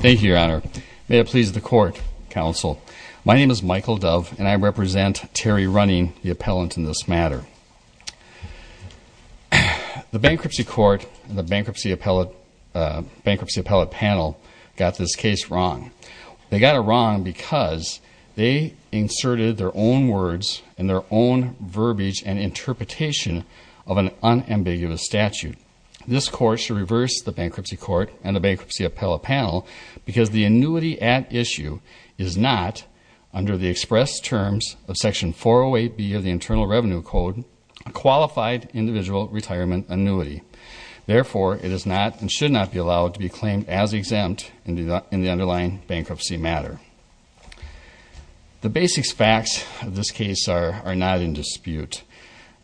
Thank you, Your Honor. May it please the Court, Counsel. My name is Michael Dove, and I represent Terri Running, the appellant in this matter. The Bankruptcy Court and the Bankruptcy Appellate Panel got this case wrong. They got it wrong because they inserted their own words and their own verbiage and interpretation of an unambiguous statute. This Court should reverse the Bankruptcy Court and the Bankruptcy Appellate Panel because the annuity at issue is not, under the express terms of Section 408B of the Internal Revenue Code, a qualified individual retirement annuity. Therefore, it is not and should not be allowed to be claimed as exempt in the underlying bankruptcy matter. The basic facts of this case are not in dispute.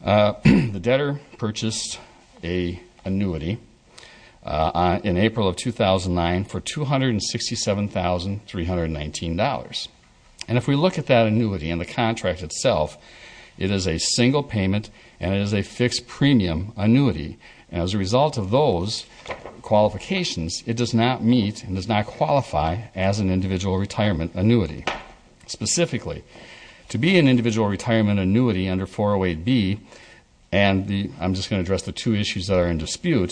The debtor purchased an annuity in April of 2009 for $267,319. If we look at that annuity and the contract itself, it is a single payment and it is a fixed premium annuity. As a result of those qualifications, it does not meet and does not qualify as an individual retirement annuity. Specifically, to be an individual retirement annuity under 408B, and I'm just going to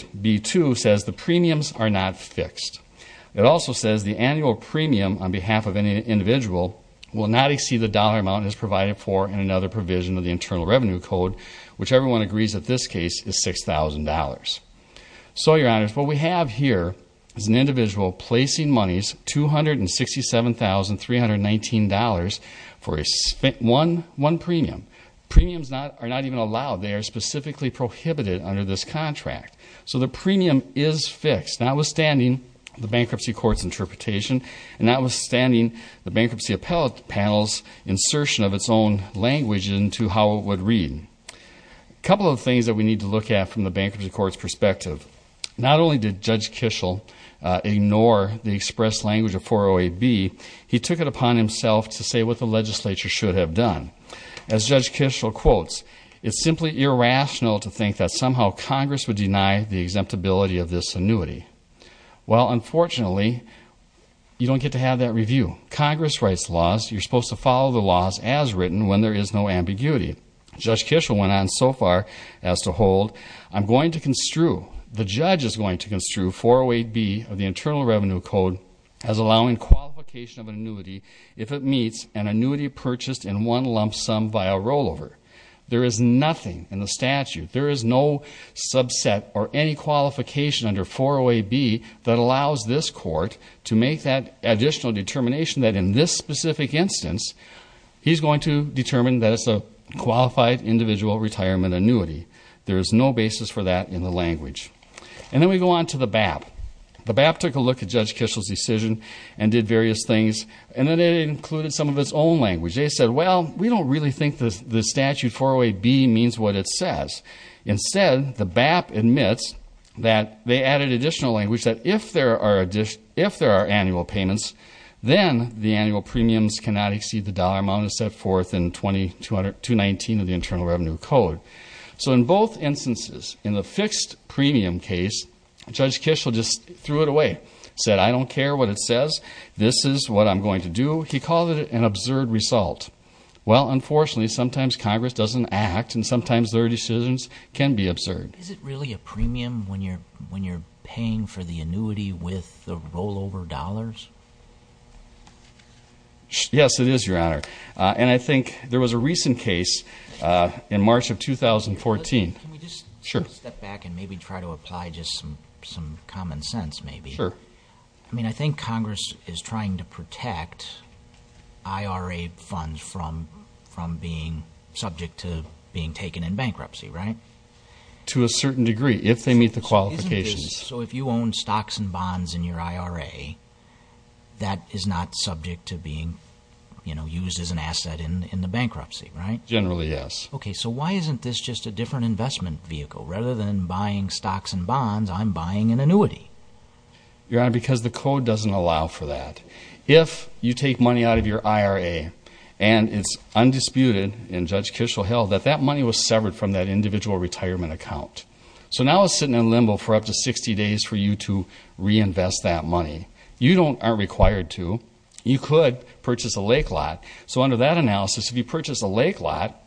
It also says the annual premium on behalf of an individual will not exceed the dollar amount as provided for in another provision of the Internal Revenue Code, which everyone agrees that this case is $6,000. So, Your Honors, what we have here is an individual placing monies $267,319 for one premium. Premiums are not even allowed. They are specifically prohibited under this contract. So, the premium is fixed, notwithstanding the bankruptcy court's interpretation and notwithstanding the bankruptcy panel's insertion of its own language into how it would read. A couple of things that we need to look at from the bankruptcy court's perspective. Not only did Judge Kishel ignore the expressed language of 408B, he took it upon himself to say what the legislature should have done. As Judge Kishel quotes, it's simply irrational to think that somehow Congress would deny the exemptibility of this annuity. Well, unfortunately, you don't get to have that review. Congress writes laws. You're supposed to follow the laws as written when there is no ambiguity. Judge Kishel went on so far as to hold, I'm going to construe, the judge is going to construe 408B of the Internal Revenue Code as allowing qualification of an annuity if it meets an annuity purchased in one lump sum via rollover. There is nothing in the statute, there is no subset or any qualification under 408B that allows this court to make that additional determination that in this specific instance, he's going to determine that it's a qualified individual retirement annuity. There is no basis for that in the language. And then we go on to the BAP. The BAP took a look at Judge Kishel's decision and did various things and then it included some of its own language. They said, well, we don't really think that the statute 408B means what it says. Instead, the BAP admits that they added additional language that if there are annual payments, then the annual premiums cannot exceed the dollar amount as set forth in 219 of the Internal Revenue Code. So in both instances, in the fixed premium case, Judge Kishel just threw it away, said, I don't care what it says, this is what I'm going to do. He called it an absurd result. Well, unfortunately, sometimes Congress doesn't act and sometimes their decisions can be absurd. Is it really a premium when you're paying for the annuity with the rollover dollars? Yes, it is, Your Honor. And I think there was a recent case in March of 2014. Can we just step back and maybe try to apply just some common sense maybe? Sure. I mean, I think Congress is trying to protect IRA funds from being subject to being taken in bankruptcy, right? To a certain degree, if they meet the qualifications. So if you own stocks and bonds in your IRA, that is not subject to being used as an asset in the bankruptcy, right? Generally, yes. Okay, so why isn't this just a different investment vehicle? Rather than buying stocks and bonds, I'm buying an annuity. Your Honor, because the code doesn't allow for that. If you take money out of your IRA and it's undisputed, and Judge Kishel held, that that money was severed from that individual retirement account. So now it's sitting in limbo for up to 60 days for you to reinvest that money. You aren't required to. You could purchase a lake lot. So under that analysis, if you purchase a lake lot,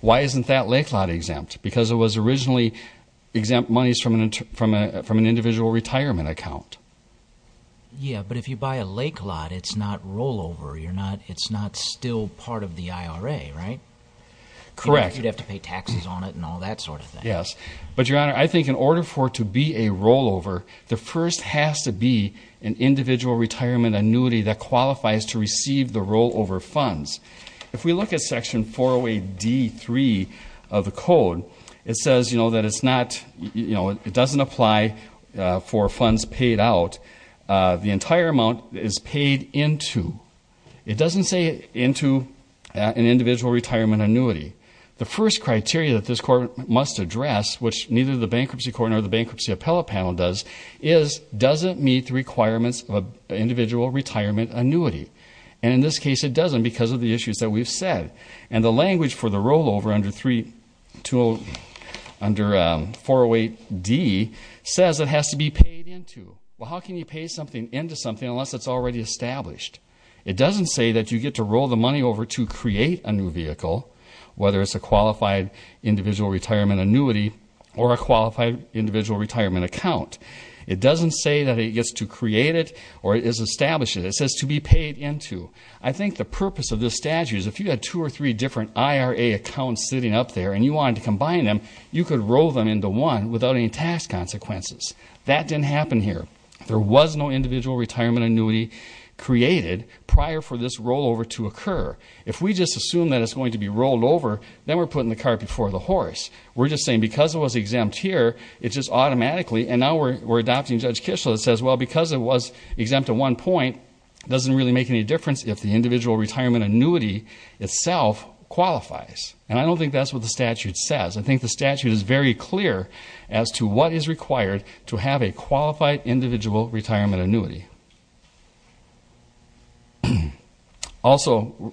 why isn't that lake lot exempt? Because it was originally exempt monies from an individual retirement account. Yeah, but if you buy a lake lot, it's not rollover. It's not still part of the IRA, right? Correct. You'd have to pay taxes on it and all that sort of thing. Yes, but Your Honor, I think in order for it to be a rollover, the first has to be an individual retirement annuity that qualifies to receive the rollover funds. If we look at Section 408D.3 of the code, it says that it's not, it doesn't apply for funds paid out. The entire amount is paid into. It doesn't say into an individual retirement annuity. The first criteria that this Court must address, which neither the Bankruptcy Court nor the Bankruptcy Appellate Panel does, is does it meet the requirements of an individual retirement annuity? And in this case, it doesn't because of the issues that we've said. And the language for the rollover under 408D says it has to be paid into. Well, how can you pay something into something unless it's already established? It doesn't say that you get to roll the money over to create a new vehicle, whether it's a qualified individual retirement annuity or a qualified individual retirement account. It doesn't say that it gets to create it or is established in it. It says to be paid into. I think the purpose of this statute is if you had two or three different IRA accounts sitting up there and you wanted to combine them, you could roll them into one without any tax consequences. That didn't happen here. There was no individual retirement annuity created prior for this rollover to occur. If we just assume that it's going to be rolled over, then we're putting the cart before the horse. We're just saying because it was exempt here, it just automatically, and now we're saying because it was exempt at one point, it doesn't really make any difference if the individual retirement annuity itself qualifies. And I don't think that's what the statute says. I think the statute is very clear as to what is required to have a qualified individual retirement annuity. Also,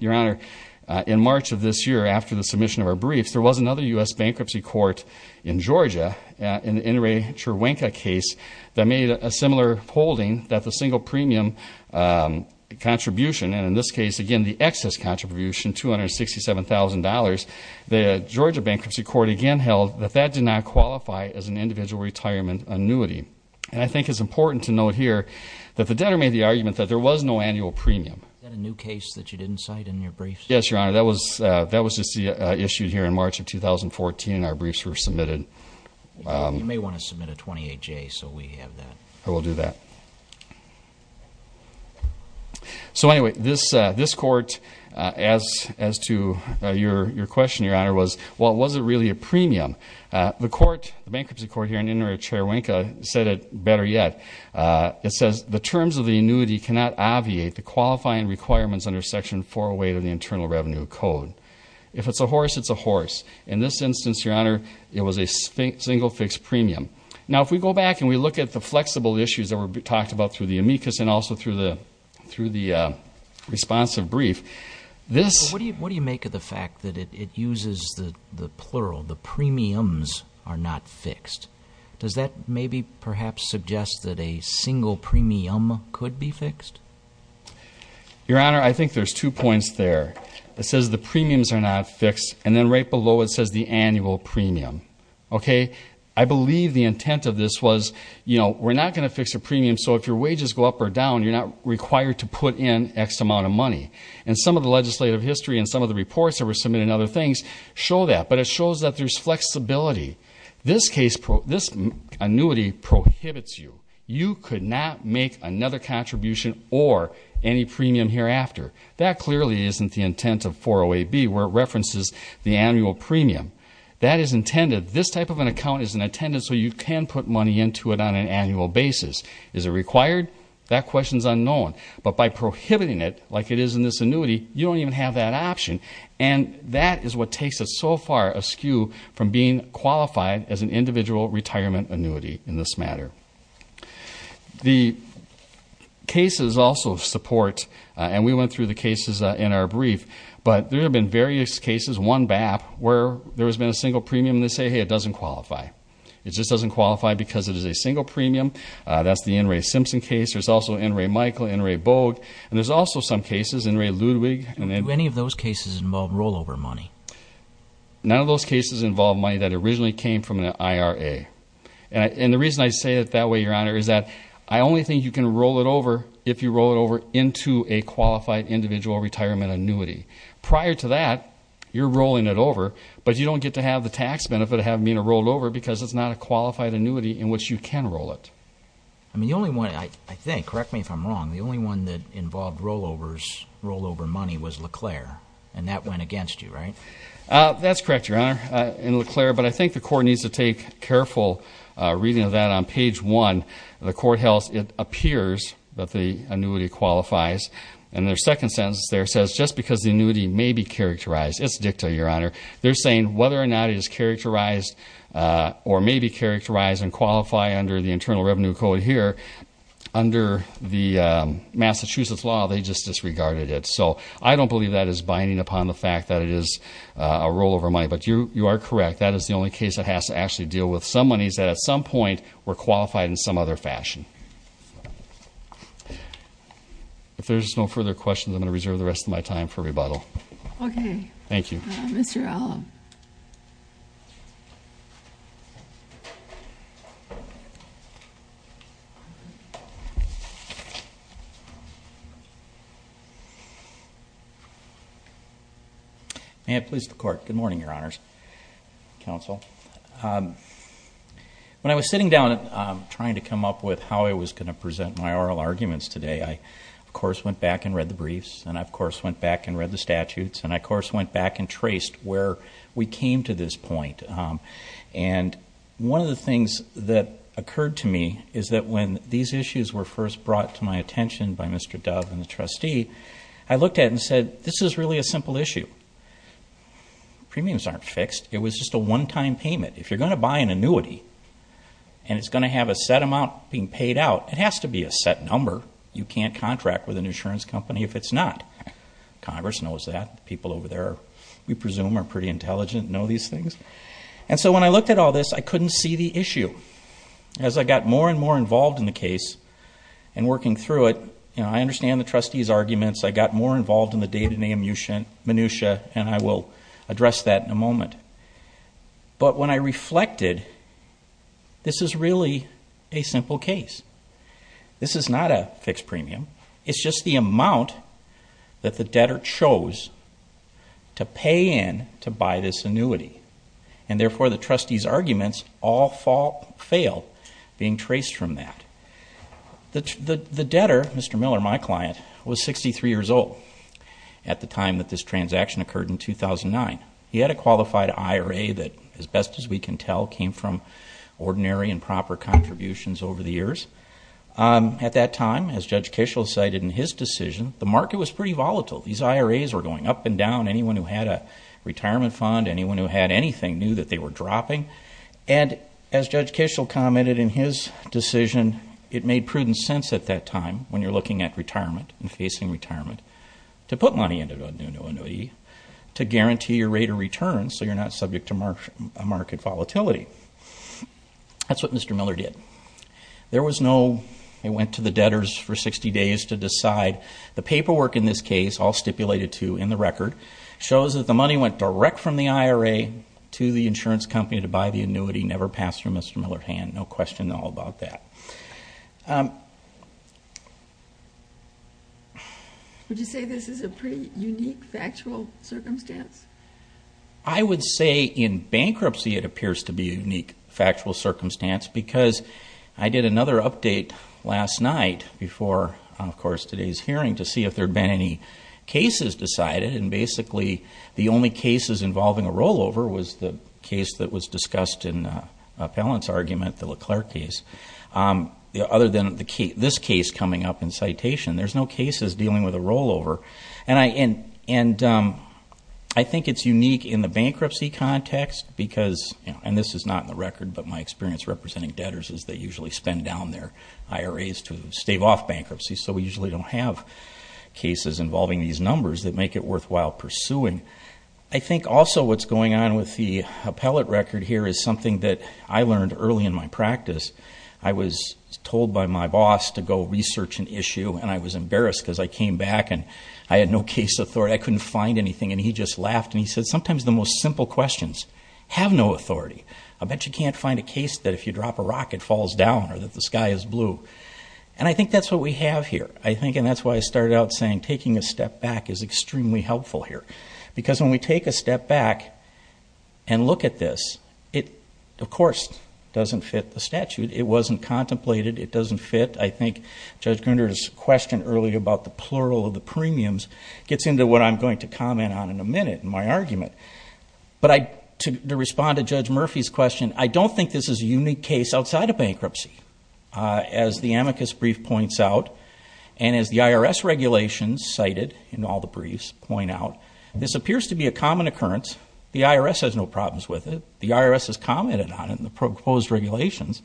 Your Honor, in March of this year, after the submission of our briefs, there was another U.S. bankruptcy court in Georgia, in the Inouye Cherwenka case, that made a similar holding that the single premium contribution, and in this case, again, the excess contribution, $267,000, the Georgia bankruptcy court again held that that did not qualify as an individual retirement annuity. And I think it's important to note here that the debtor made the argument that there was no annual premium. Is that a new case that you didn't cite in your briefs? Yes, Your Honor. That was issued here in March of 2014. Our briefs were submitted. You may want to submit a 28-J so we have that. I will do that. So anyway, this court, as to your question, Your Honor, was, well, was it really a premium? The court, the bankruptcy court here in Inouye Cherwenka said it better yet. It says, the terms of the annuity cannot obviate the qualifying requirements under Section 408 of the Internal Revenue Code. If it's a horse, it's a horse. In this instance, Your Honor, it was a single fixed premium. Now, if we go back and we look at the flexible issues that were talked about through the amicus and also through the responsive brief, this... What do you make of the fact that it uses the plural, the premiums are not fixed? Does that maybe perhaps suggest that a single premium could be fixed? Your Honor, I think there's two points there. It says the premiums are not fixed, and then right below it says the annual premium. Okay? I believe the intent of this was, you know, we're not going to fix a premium so if your wages go up or down, you're not required to put in X amount of money. And some of the legislative history and some of the reports that were submitted and other things show that. But it shows that there's flexibility. This case, this annuity prohibits you. You could not make another contribution or any premium hereafter. That clearly isn't the intent of 40AB where it references the annual premium. That is intended. This type of an account is intended so you can put money into it on an annual basis. Is it required? That question's unknown. But by prohibiting it, like it is in this annuity, you don't even have that option. And that is what takes it so far askew from being qualified as an individual retirement annuity in this matter. The cases also support, and we went through the cases in our brief, but there have been various cases, one BAP where there has been a single premium and they say, hey, it doesn't qualify. It just doesn't qualify because it is a single premium. That's the N. Ray Simpson case. There's also N. Ray Michael, N. Ray Bogue. And there's also some cases, N. Ray Ludwig. Do any of those cases involve rollover money? None of those cases involve money that originally came from an IRA. And the reason I say it that way, Your Honor, is that I only think you can roll it over if you roll it over into a qualified individual retirement annuity. Prior to that, you're rolling it over, but you don't get to have the tax benefit of having it rolled over because it's not a qualified annuity in which you can roll it. I mean, the only one, I think, correct me if I'm wrong, the only one that involved rollovers, rollover money, was LeClaire. And that went against you, right? That's correct, Your Honor, in LeClaire. But I think the court needs to take careful reading of that. On page 1, the court held it appears that the annuity qualifies. And their second sentence there says, just because the annuity may be characterized, it's dicta, Your Honor. They're saying whether or not it is characterized or may be characterized and qualify under the Internal Revenue Code here, under the Massachusetts law, they just disregarded it. So I don't believe that is binding upon the fact that it is a rollover money. But you are correct. That is the only case that has to actually deal with some monies that at some point were qualified in some other fashion. If there's no further questions, I'm going to reserve the rest of my time for rebuttal. Okay. Thank you. Mr. Allen. May it please the Court. Good morning, Your Honors. Counsel. When I was sitting down trying to come up with how I was going to present my oral arguments today, I, of course, went back and read the briefs. And I, of course, went back and read the statutes. And I, of course, went back and traced where we came to this point. And one of the things that occurred to me is that when these issues were first brought to my attention by Mr. Dove and the trustee, I looked at it and said, this is really a simple issue. Premiums aren't fixed. It was just a one-time payment. If you're going to buy an annuity and it's going to have a set amount being paid out, it has to be a set number. You can't contract with an insurance company if it's not. Congress knows that. People over there, we presume, are pretty intelligent and know these things. And so when I looked at all this, I couldn't see the issue. As I got more and more involved in the case and working through it, I understand the trustee's arguments. I got more involved in the data minutiae, and I will address that in a moment. But when I reflected, this is really a simple case. This is not a fixed premium. It's just the amount that the debtor chose to pay in to buy this annuity. And therefore, the trustee's arguments all fail being traced from that. The debtor, Mr. Miller, my client, was 63 years old at the time that this transaction occurred in 2009. He had a qualified IRA that, as best as we can tell, came from ordinary and proper contributions over the years. At that time, as Judge Kishel cited in his decision, the market was pretty volatile. These IRAs were going up and down. Anyone who had a retirement fund, anyone who had anything, knew that they were dropping. And as Judge Kishel commented in his decision, it made prudent sense at that time, when you're looking at retirement and facing retirement, to put money into an annuity to guarantee your rate of return so you're not subject to market volatility. That's what Mr. Miller did. There was no, he went to the debtors for 60 days to decide. The paperwork in this case, all stipulated to in the record, shows that the money went direct from the IRA to the insurance company to buy the annuity, never passed through Mr. Miller's hand, no question at all about that. Would you say this is a pretty unique factual circumstance? I would say in bankruptcy it appears to be a unique factual circumstance because I did another update last night before, of course, today's hearing to see if there had been any cases decided. And basically, the only cases involving a rollover was the case that was discussed in Appellant's argument, the LeClerc case. Other than this case coming up in citation, there's no cases dealing with a rollover. And I think it's unique in the bankruptcy context because, and this is not in the record, but my experience representing debtors is they usually spend down their IRAs to stave off bankruptcy. So we usually don't have cases involving these numbers that make it worthwhile pursuing. I think also what's going on with the appellate record here is something that I learned early in my practice. I was told by my boss to go research an issue, and I was embarrassed because I came back and I had no case authority. I couldn't find anything, and he just laughed and he said, sometimes the most simple questions have no authority. I bet you can't find a case that if you drop a rock it falls down or that the sky is blue. And I think that's what we have here. I think, and that's why I started out saying taking a step back is extremely helpful here. Because when we take a step back and look at this, it, of course, doesn't fit the statute. It wasn't contemplated. It doesn't fit. I think Judge Gruner's question earlier about the plural of the premiums gets into what I'm going to comment on in a minute in my argument. But to respond to Judge Murphy's question, I don't think this is a unique case outside of bankruptcy as the amicus brief points out. And as the IRS regulations cited in all the briefs point out, this appears to be a common occurrence. The IRS has no problems with it. The IRS has commented on it in the proposed regulations.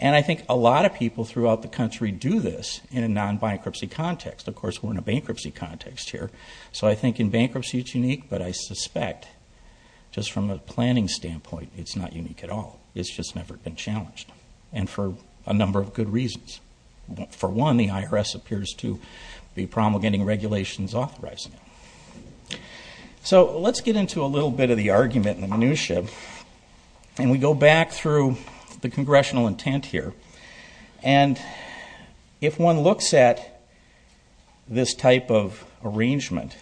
And I think a lot of people throughout the country do this in a non-bankruptcy context. Of course, we're in a bankruptcy context here. So I think in bankruptcy it's unique, but I suspect just from a planning standpoint it's not unique at all. It's just never been challenged. And for a number of good reasons. For one, the IRS appears to be promulgating regulations authorizing it. So let's get into a little bit of the argument and the minutia. And we go back through the congressional intent here. And if one looks at this type of arrangement,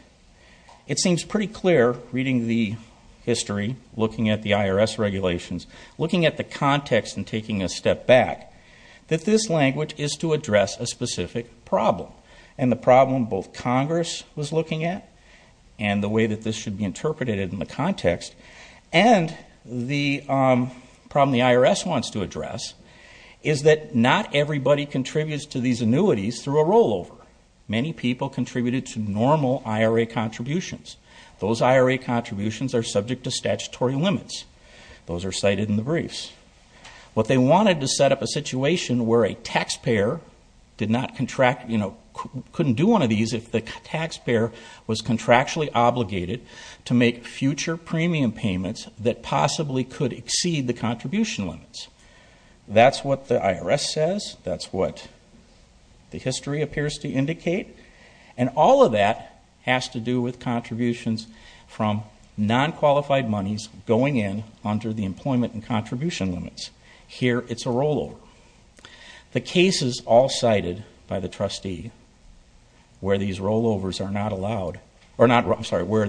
it seems pretty clear reading the history, looking at the IRS regulations, looking at the context and taking a step back, that this language is to address a specific problem. And the problem both Congress was looking at and the way that this should be interpreted in the context and the problem the IRS wants to address is that not everybody contributes to these annuities through a rollover. Many people contributed to normal IRA contributions. Those IRA contributions are subject to statutory limits. Those are cited in the briefs. What they wanted to set up a situation where a taxpayer couldn't do one of these if the taxpayer was contractually obligated to make future premium payments that possibly could exceed the contribution limits. That's what the IRS says. That's what the history appears to indicate. And all of that has to do with contributions from non-qualified monies going in under the employment and contribution limits. Here it's a rollover. The cases all cited by the trustee where these rollovers are not allowed, I'm sorry, where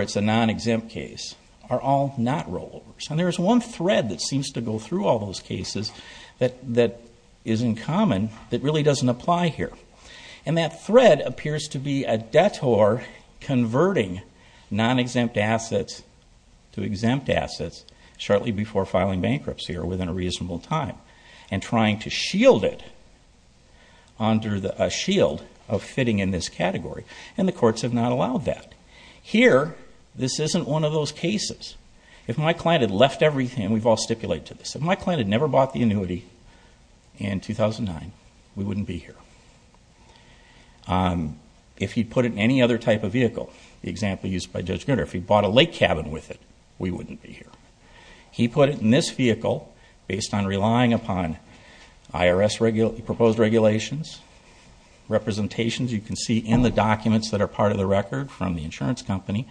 it's a non-exempt case, are all not rollovers. And there's one thread that seems to go through all those cases that is in common that really doesn't apply here. And that thread appears to be a detour converting non-exempt assets to exempt assets shortly before filing bankruptcy or within a reasonable time and trying to shield it under a shield of fitting in this category. And the courts have not allowed that. Here, this isn't one of those cases. If my client had left everything, and we've all stipulated to this, if my client had never bought the annuity in 2009, we wouldn't be here. If he'd put it in any other type of vehicle, the example used by Judge Gruner, if he bought a lake cabin with it, we wouldn't be here. He put it in this vehicle based on relying upon IRS-proposed regulations, representations you can see in the documents that are part of the record from the insurance company,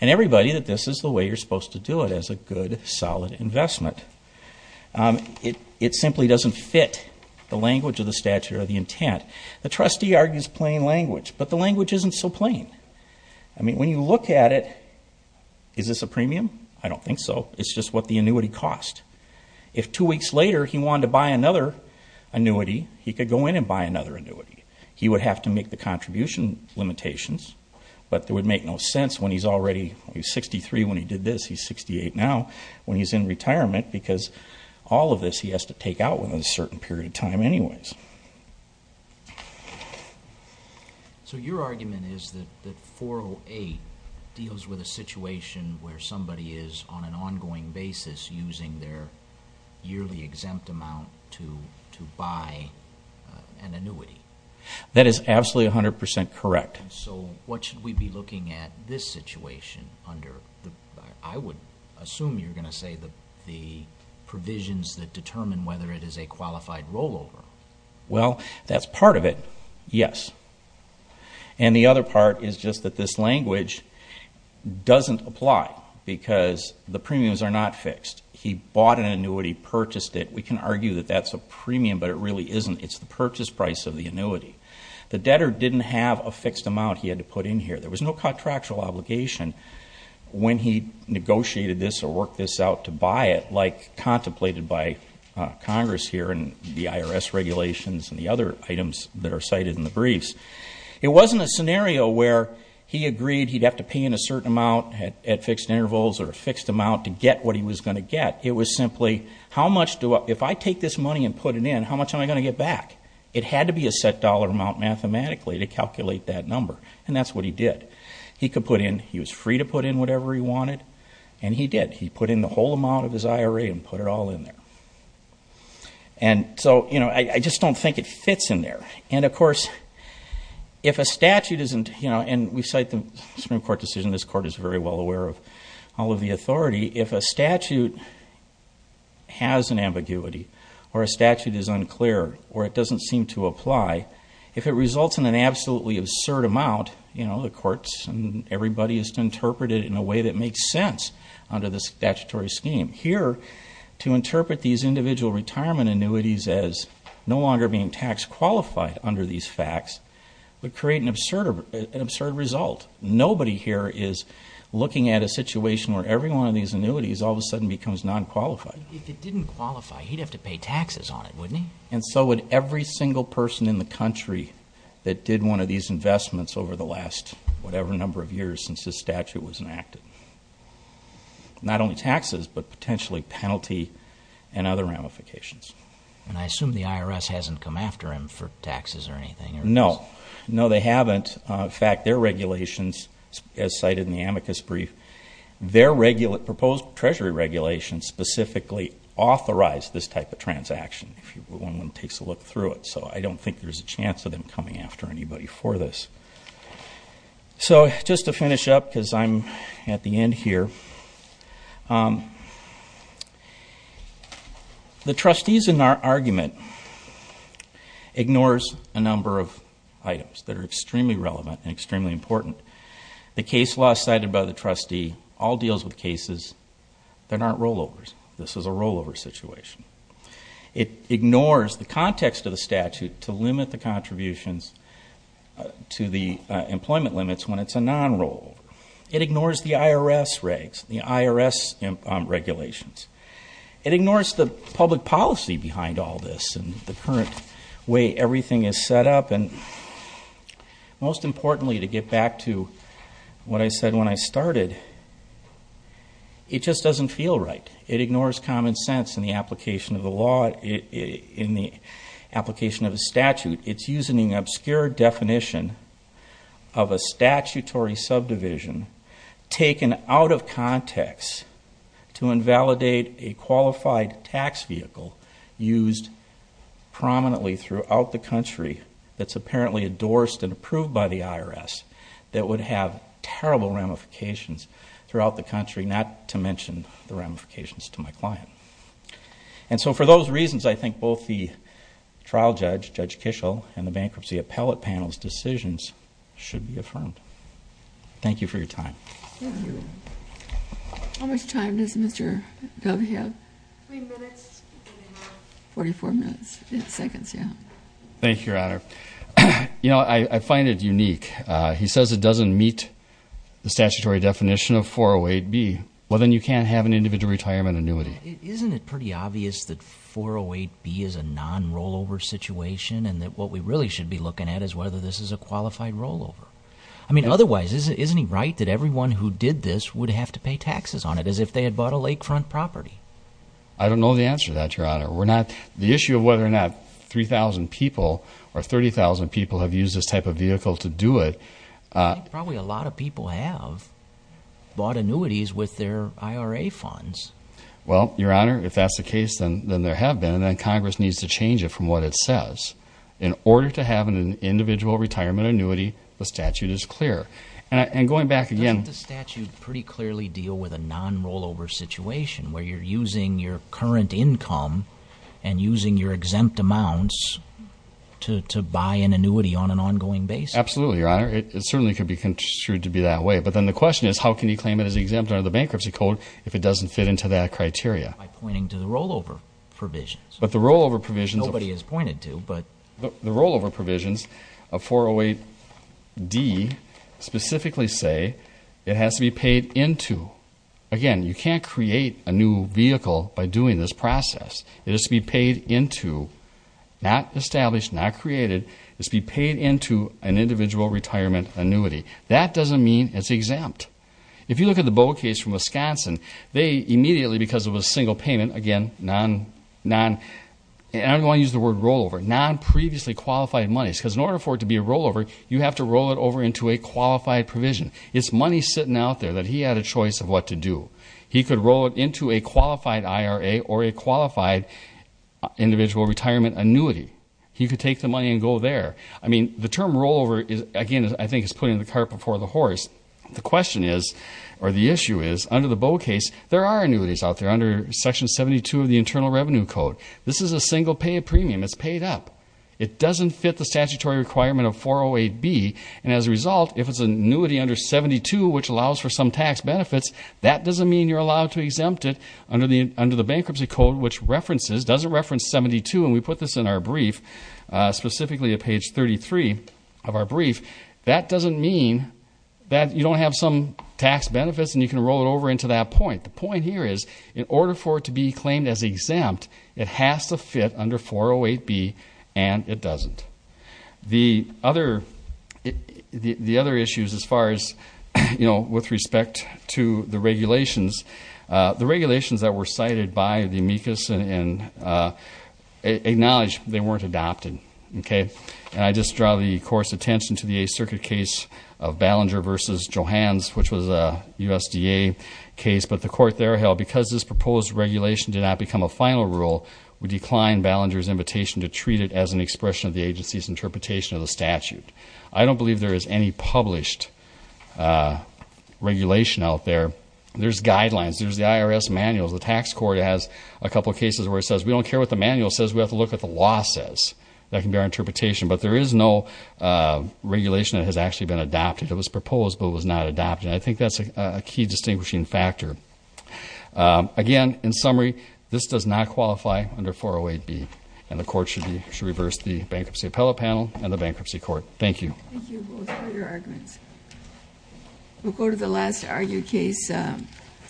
and everybody that this is the way you're supposed to do it, as a good, solid investment. It simply doesn't fit the language of the statute or the intent. The trustee argues plain language, but the language isn't so plain. I mean, when you look at it, is this a premium? I don't think so. It's just what the annuity cost. If two weeks later he wanted to buy another annuity, he could go in and buy another annuity. He would have to make the contribution limitations, but it would make no sense when he's already 63 when he did this. He's 68 now when he's in retirement because all of this he has to take out within a certain period of time anyways. So your argument is that 408 deals with a situation where somebody is, on an ongoing basis, using their yearly exempt amount to buy an annuity. That is absolutely 100% correct. So what should we be looking at this situation under, I would assume you're going to say the provisions that determine whether it is a qualified rollover. Well, that's part of it, yes. And the other part is just that this language doesn't apply because the premiums are not fixed. He bought an annuity, purchased it. We can argue that that's a premium, but it really isn't. It's the purchase price of the annuity. The debtor didn't have a fixed amount he had to put in here. There was no contractual obligation when he negotiated this or worked this out to buy it, like contemplated by Congress here and the IRS regulations and the other items that are cited in the briefs. It wasn't a scenario where he agreed he'd have to pay in a certain amount at fixed intervals or a fixed amount to get what he was going to get. It was simply, if I take this money and put it in, how much am I going to get back? It had to be a set dollar amount mathematically to calculate that number, and that's what he did. He could put in, he was free to put in whatever he wanted, and he did. He put in the whole amount of his IRA and put it all in there. And so, you know, I just don't think it fits in there. And, of course, if a statute isn't, you know, and we cite the Supreme Court decision, this Court is very well aware of all of the authority, if a statute has an ambiguity or a statute is unclear or it doesn't seem to apply, if it results in an absolutely absurd amount, you know, the courts and everybody has to interpret it in a way that makes sense under the statutory scheme. Here, to interpret these individual retirement annuities as no longer being tax qualified under these facts would create an absurd result. Nobody here is looking at a situation where every one of these annuities all of a sudden becomes non-qualified. If it didn't qualify, he'd have to pay taxes on it, wouldn't he? And so would every single person in the country that did one of these investments over the last whatever number of years since this statute was enacted. Not only taxes, but potentially penalty and other ramifications. And I assume the IRS hasn't come after him for taxes or anything. No. No, they haven't. In fact, their regulations, as cited in the amicus brief, their proposed treasury regulations specifically authorize this type of transaction if one takes a look through it. So I don't think there's a chance of them coming after anybody for this. So just to finish up, because I'm at the end here, the trustees in our argument ignores a number of items that are extremely relevant and extremely important. The case law cited by the trustee all deals with cases that aren't rollovers. This is a rollover situation. It ignores the context of the statute to limit the contributions to the employment limits when it's a non-rollover. It ignores the IRS regulations. It ignores the public policy behind all this and the current way everything is set up. Most importantly, to get back to what I said when I started, it just doesn't feel right. It ignores common sense in the application of the law, in the application of the statute. It's using an obscure definition of a statutory subdivision taken out of context to invalidate a qualified tax vehicle used prominently throughout the country that's apparently endorsed and approved by the IRS that would have terrible ramifications throughout the country, not to mention the ramifications to my client. And so for those reasons, I think both the trial judge, Judge Kishel, and the bankruptcy appellate panel's decisions should be affirmed. Thank you for your time. How much time does Mr. Gov have? Three minutes. Forty-four minutes and seconds, yeah. Thank you, Your Honor. You know, I find it unique. He says it doesn't meet the statutory definition of 408B. Well, then you can't have an individual retirement annuity. Isn't it pretty obvious that 408B is a non-rollover situation and that what we really should be looking at is whether this is a qualified rollover? I mean, otherwise, isn't he right that everyone who did this would have to pay taxes on it as if they had bought a lakefront property? I don't know the answer to that, Your Honor. The issue of whether or not 3,000 people or 30,000 people have used this type of vehicle to do it... I think probably a lot of people have bought annuities with their IRA funds. Well, Your Honor, if that's the case, then there have been, and then Congress needs to change it from what it says. In order to have an individual retirement annuity, the statute is clear. And going back again... Doesn't the statute pretty clearly deal with a non-rollover situation where you're using your current income and using your exempt amounts to buy an annuity on an ongoing basis? Absolutely, Your Honor. It certainly could be construed to be that way. But then the question is, how can you claim it as exempt under the Bankruptcy Code if it doesn't fit into that criteria? By pointing to the rollover provisions. But the rollover provisions... Nobody has pointed to, but... The rollover provisions of 408D specifically say it has to be paid into. Again, you can't create a new vehicle by doing this process. It has to be paid into. Not established, not created. It has to be paid into an individual retirement annuity. That doesn't mean it's exempt. If you look at the BOA case from Wisconsin, they immediately, because it was a single payment, again, and I don't want to use the word rollover, non-previously qualified monies. Because in order for it to be a rollover, you have to roll it over into a qualified provision. It's money sitting out there that he had a choice of what to do. He could roll it into a qualified IRA or a qualified individual retirement annuity. He could take the money and go there. I mean, the term rollover, again, I think is putting the cart before the horse. The question is, or the issue is, under the BOA case, there are annuities out there. Section 72 of the Internal Revenue Code. This is a single payment premium. It's paid up. It doesn't fit the statutory requirement of 408B. And as a result, if it's an annuity under 72, which allows for some tax benefits, that doesn't mean you're allowed to exempt it under the Bankruptcy Code, which references, doesn't reference 72, and we put this in our brief, specifically at page 33 of our brief. That doesn't mean that you don't have some tax benefits and you can roll it over into that point. The point here is, in order for it to be claimed as exempt, it has to fit under 408B, and it doesn't. The other issues as far as, you know, with respect to the regulations, the regulations that were cited by the amicus acknowledge they weren't adopted, okay? And I just draw the Court's attention to the Eighth Circuit case of Ballinger v. Johans, which was a USDA case, but the Court there held, because this proposed regulation did not become a final rule, we decline Ballinger's invitation to treat it as an expression of the agency's interpretation of the statute. I don't believe there is any published regulation out there. There's guidelines. There's the IRS manuals. The tax court has a couple cases where it says, we don't care what the manual says, we have to look at what the law says. That can be our interpretation. But there is no regulation that has actually been adopted. It was proposed, but it was not adopted. And I think that's a key distinguishing factor. Again, in summary, this does not qualify under 408B, and the Court should reverse the Bankruptcy Appellate Panel and the Bankruptcy Court. Thank you. Thank you both for your arguments. We'll go to the last argued case.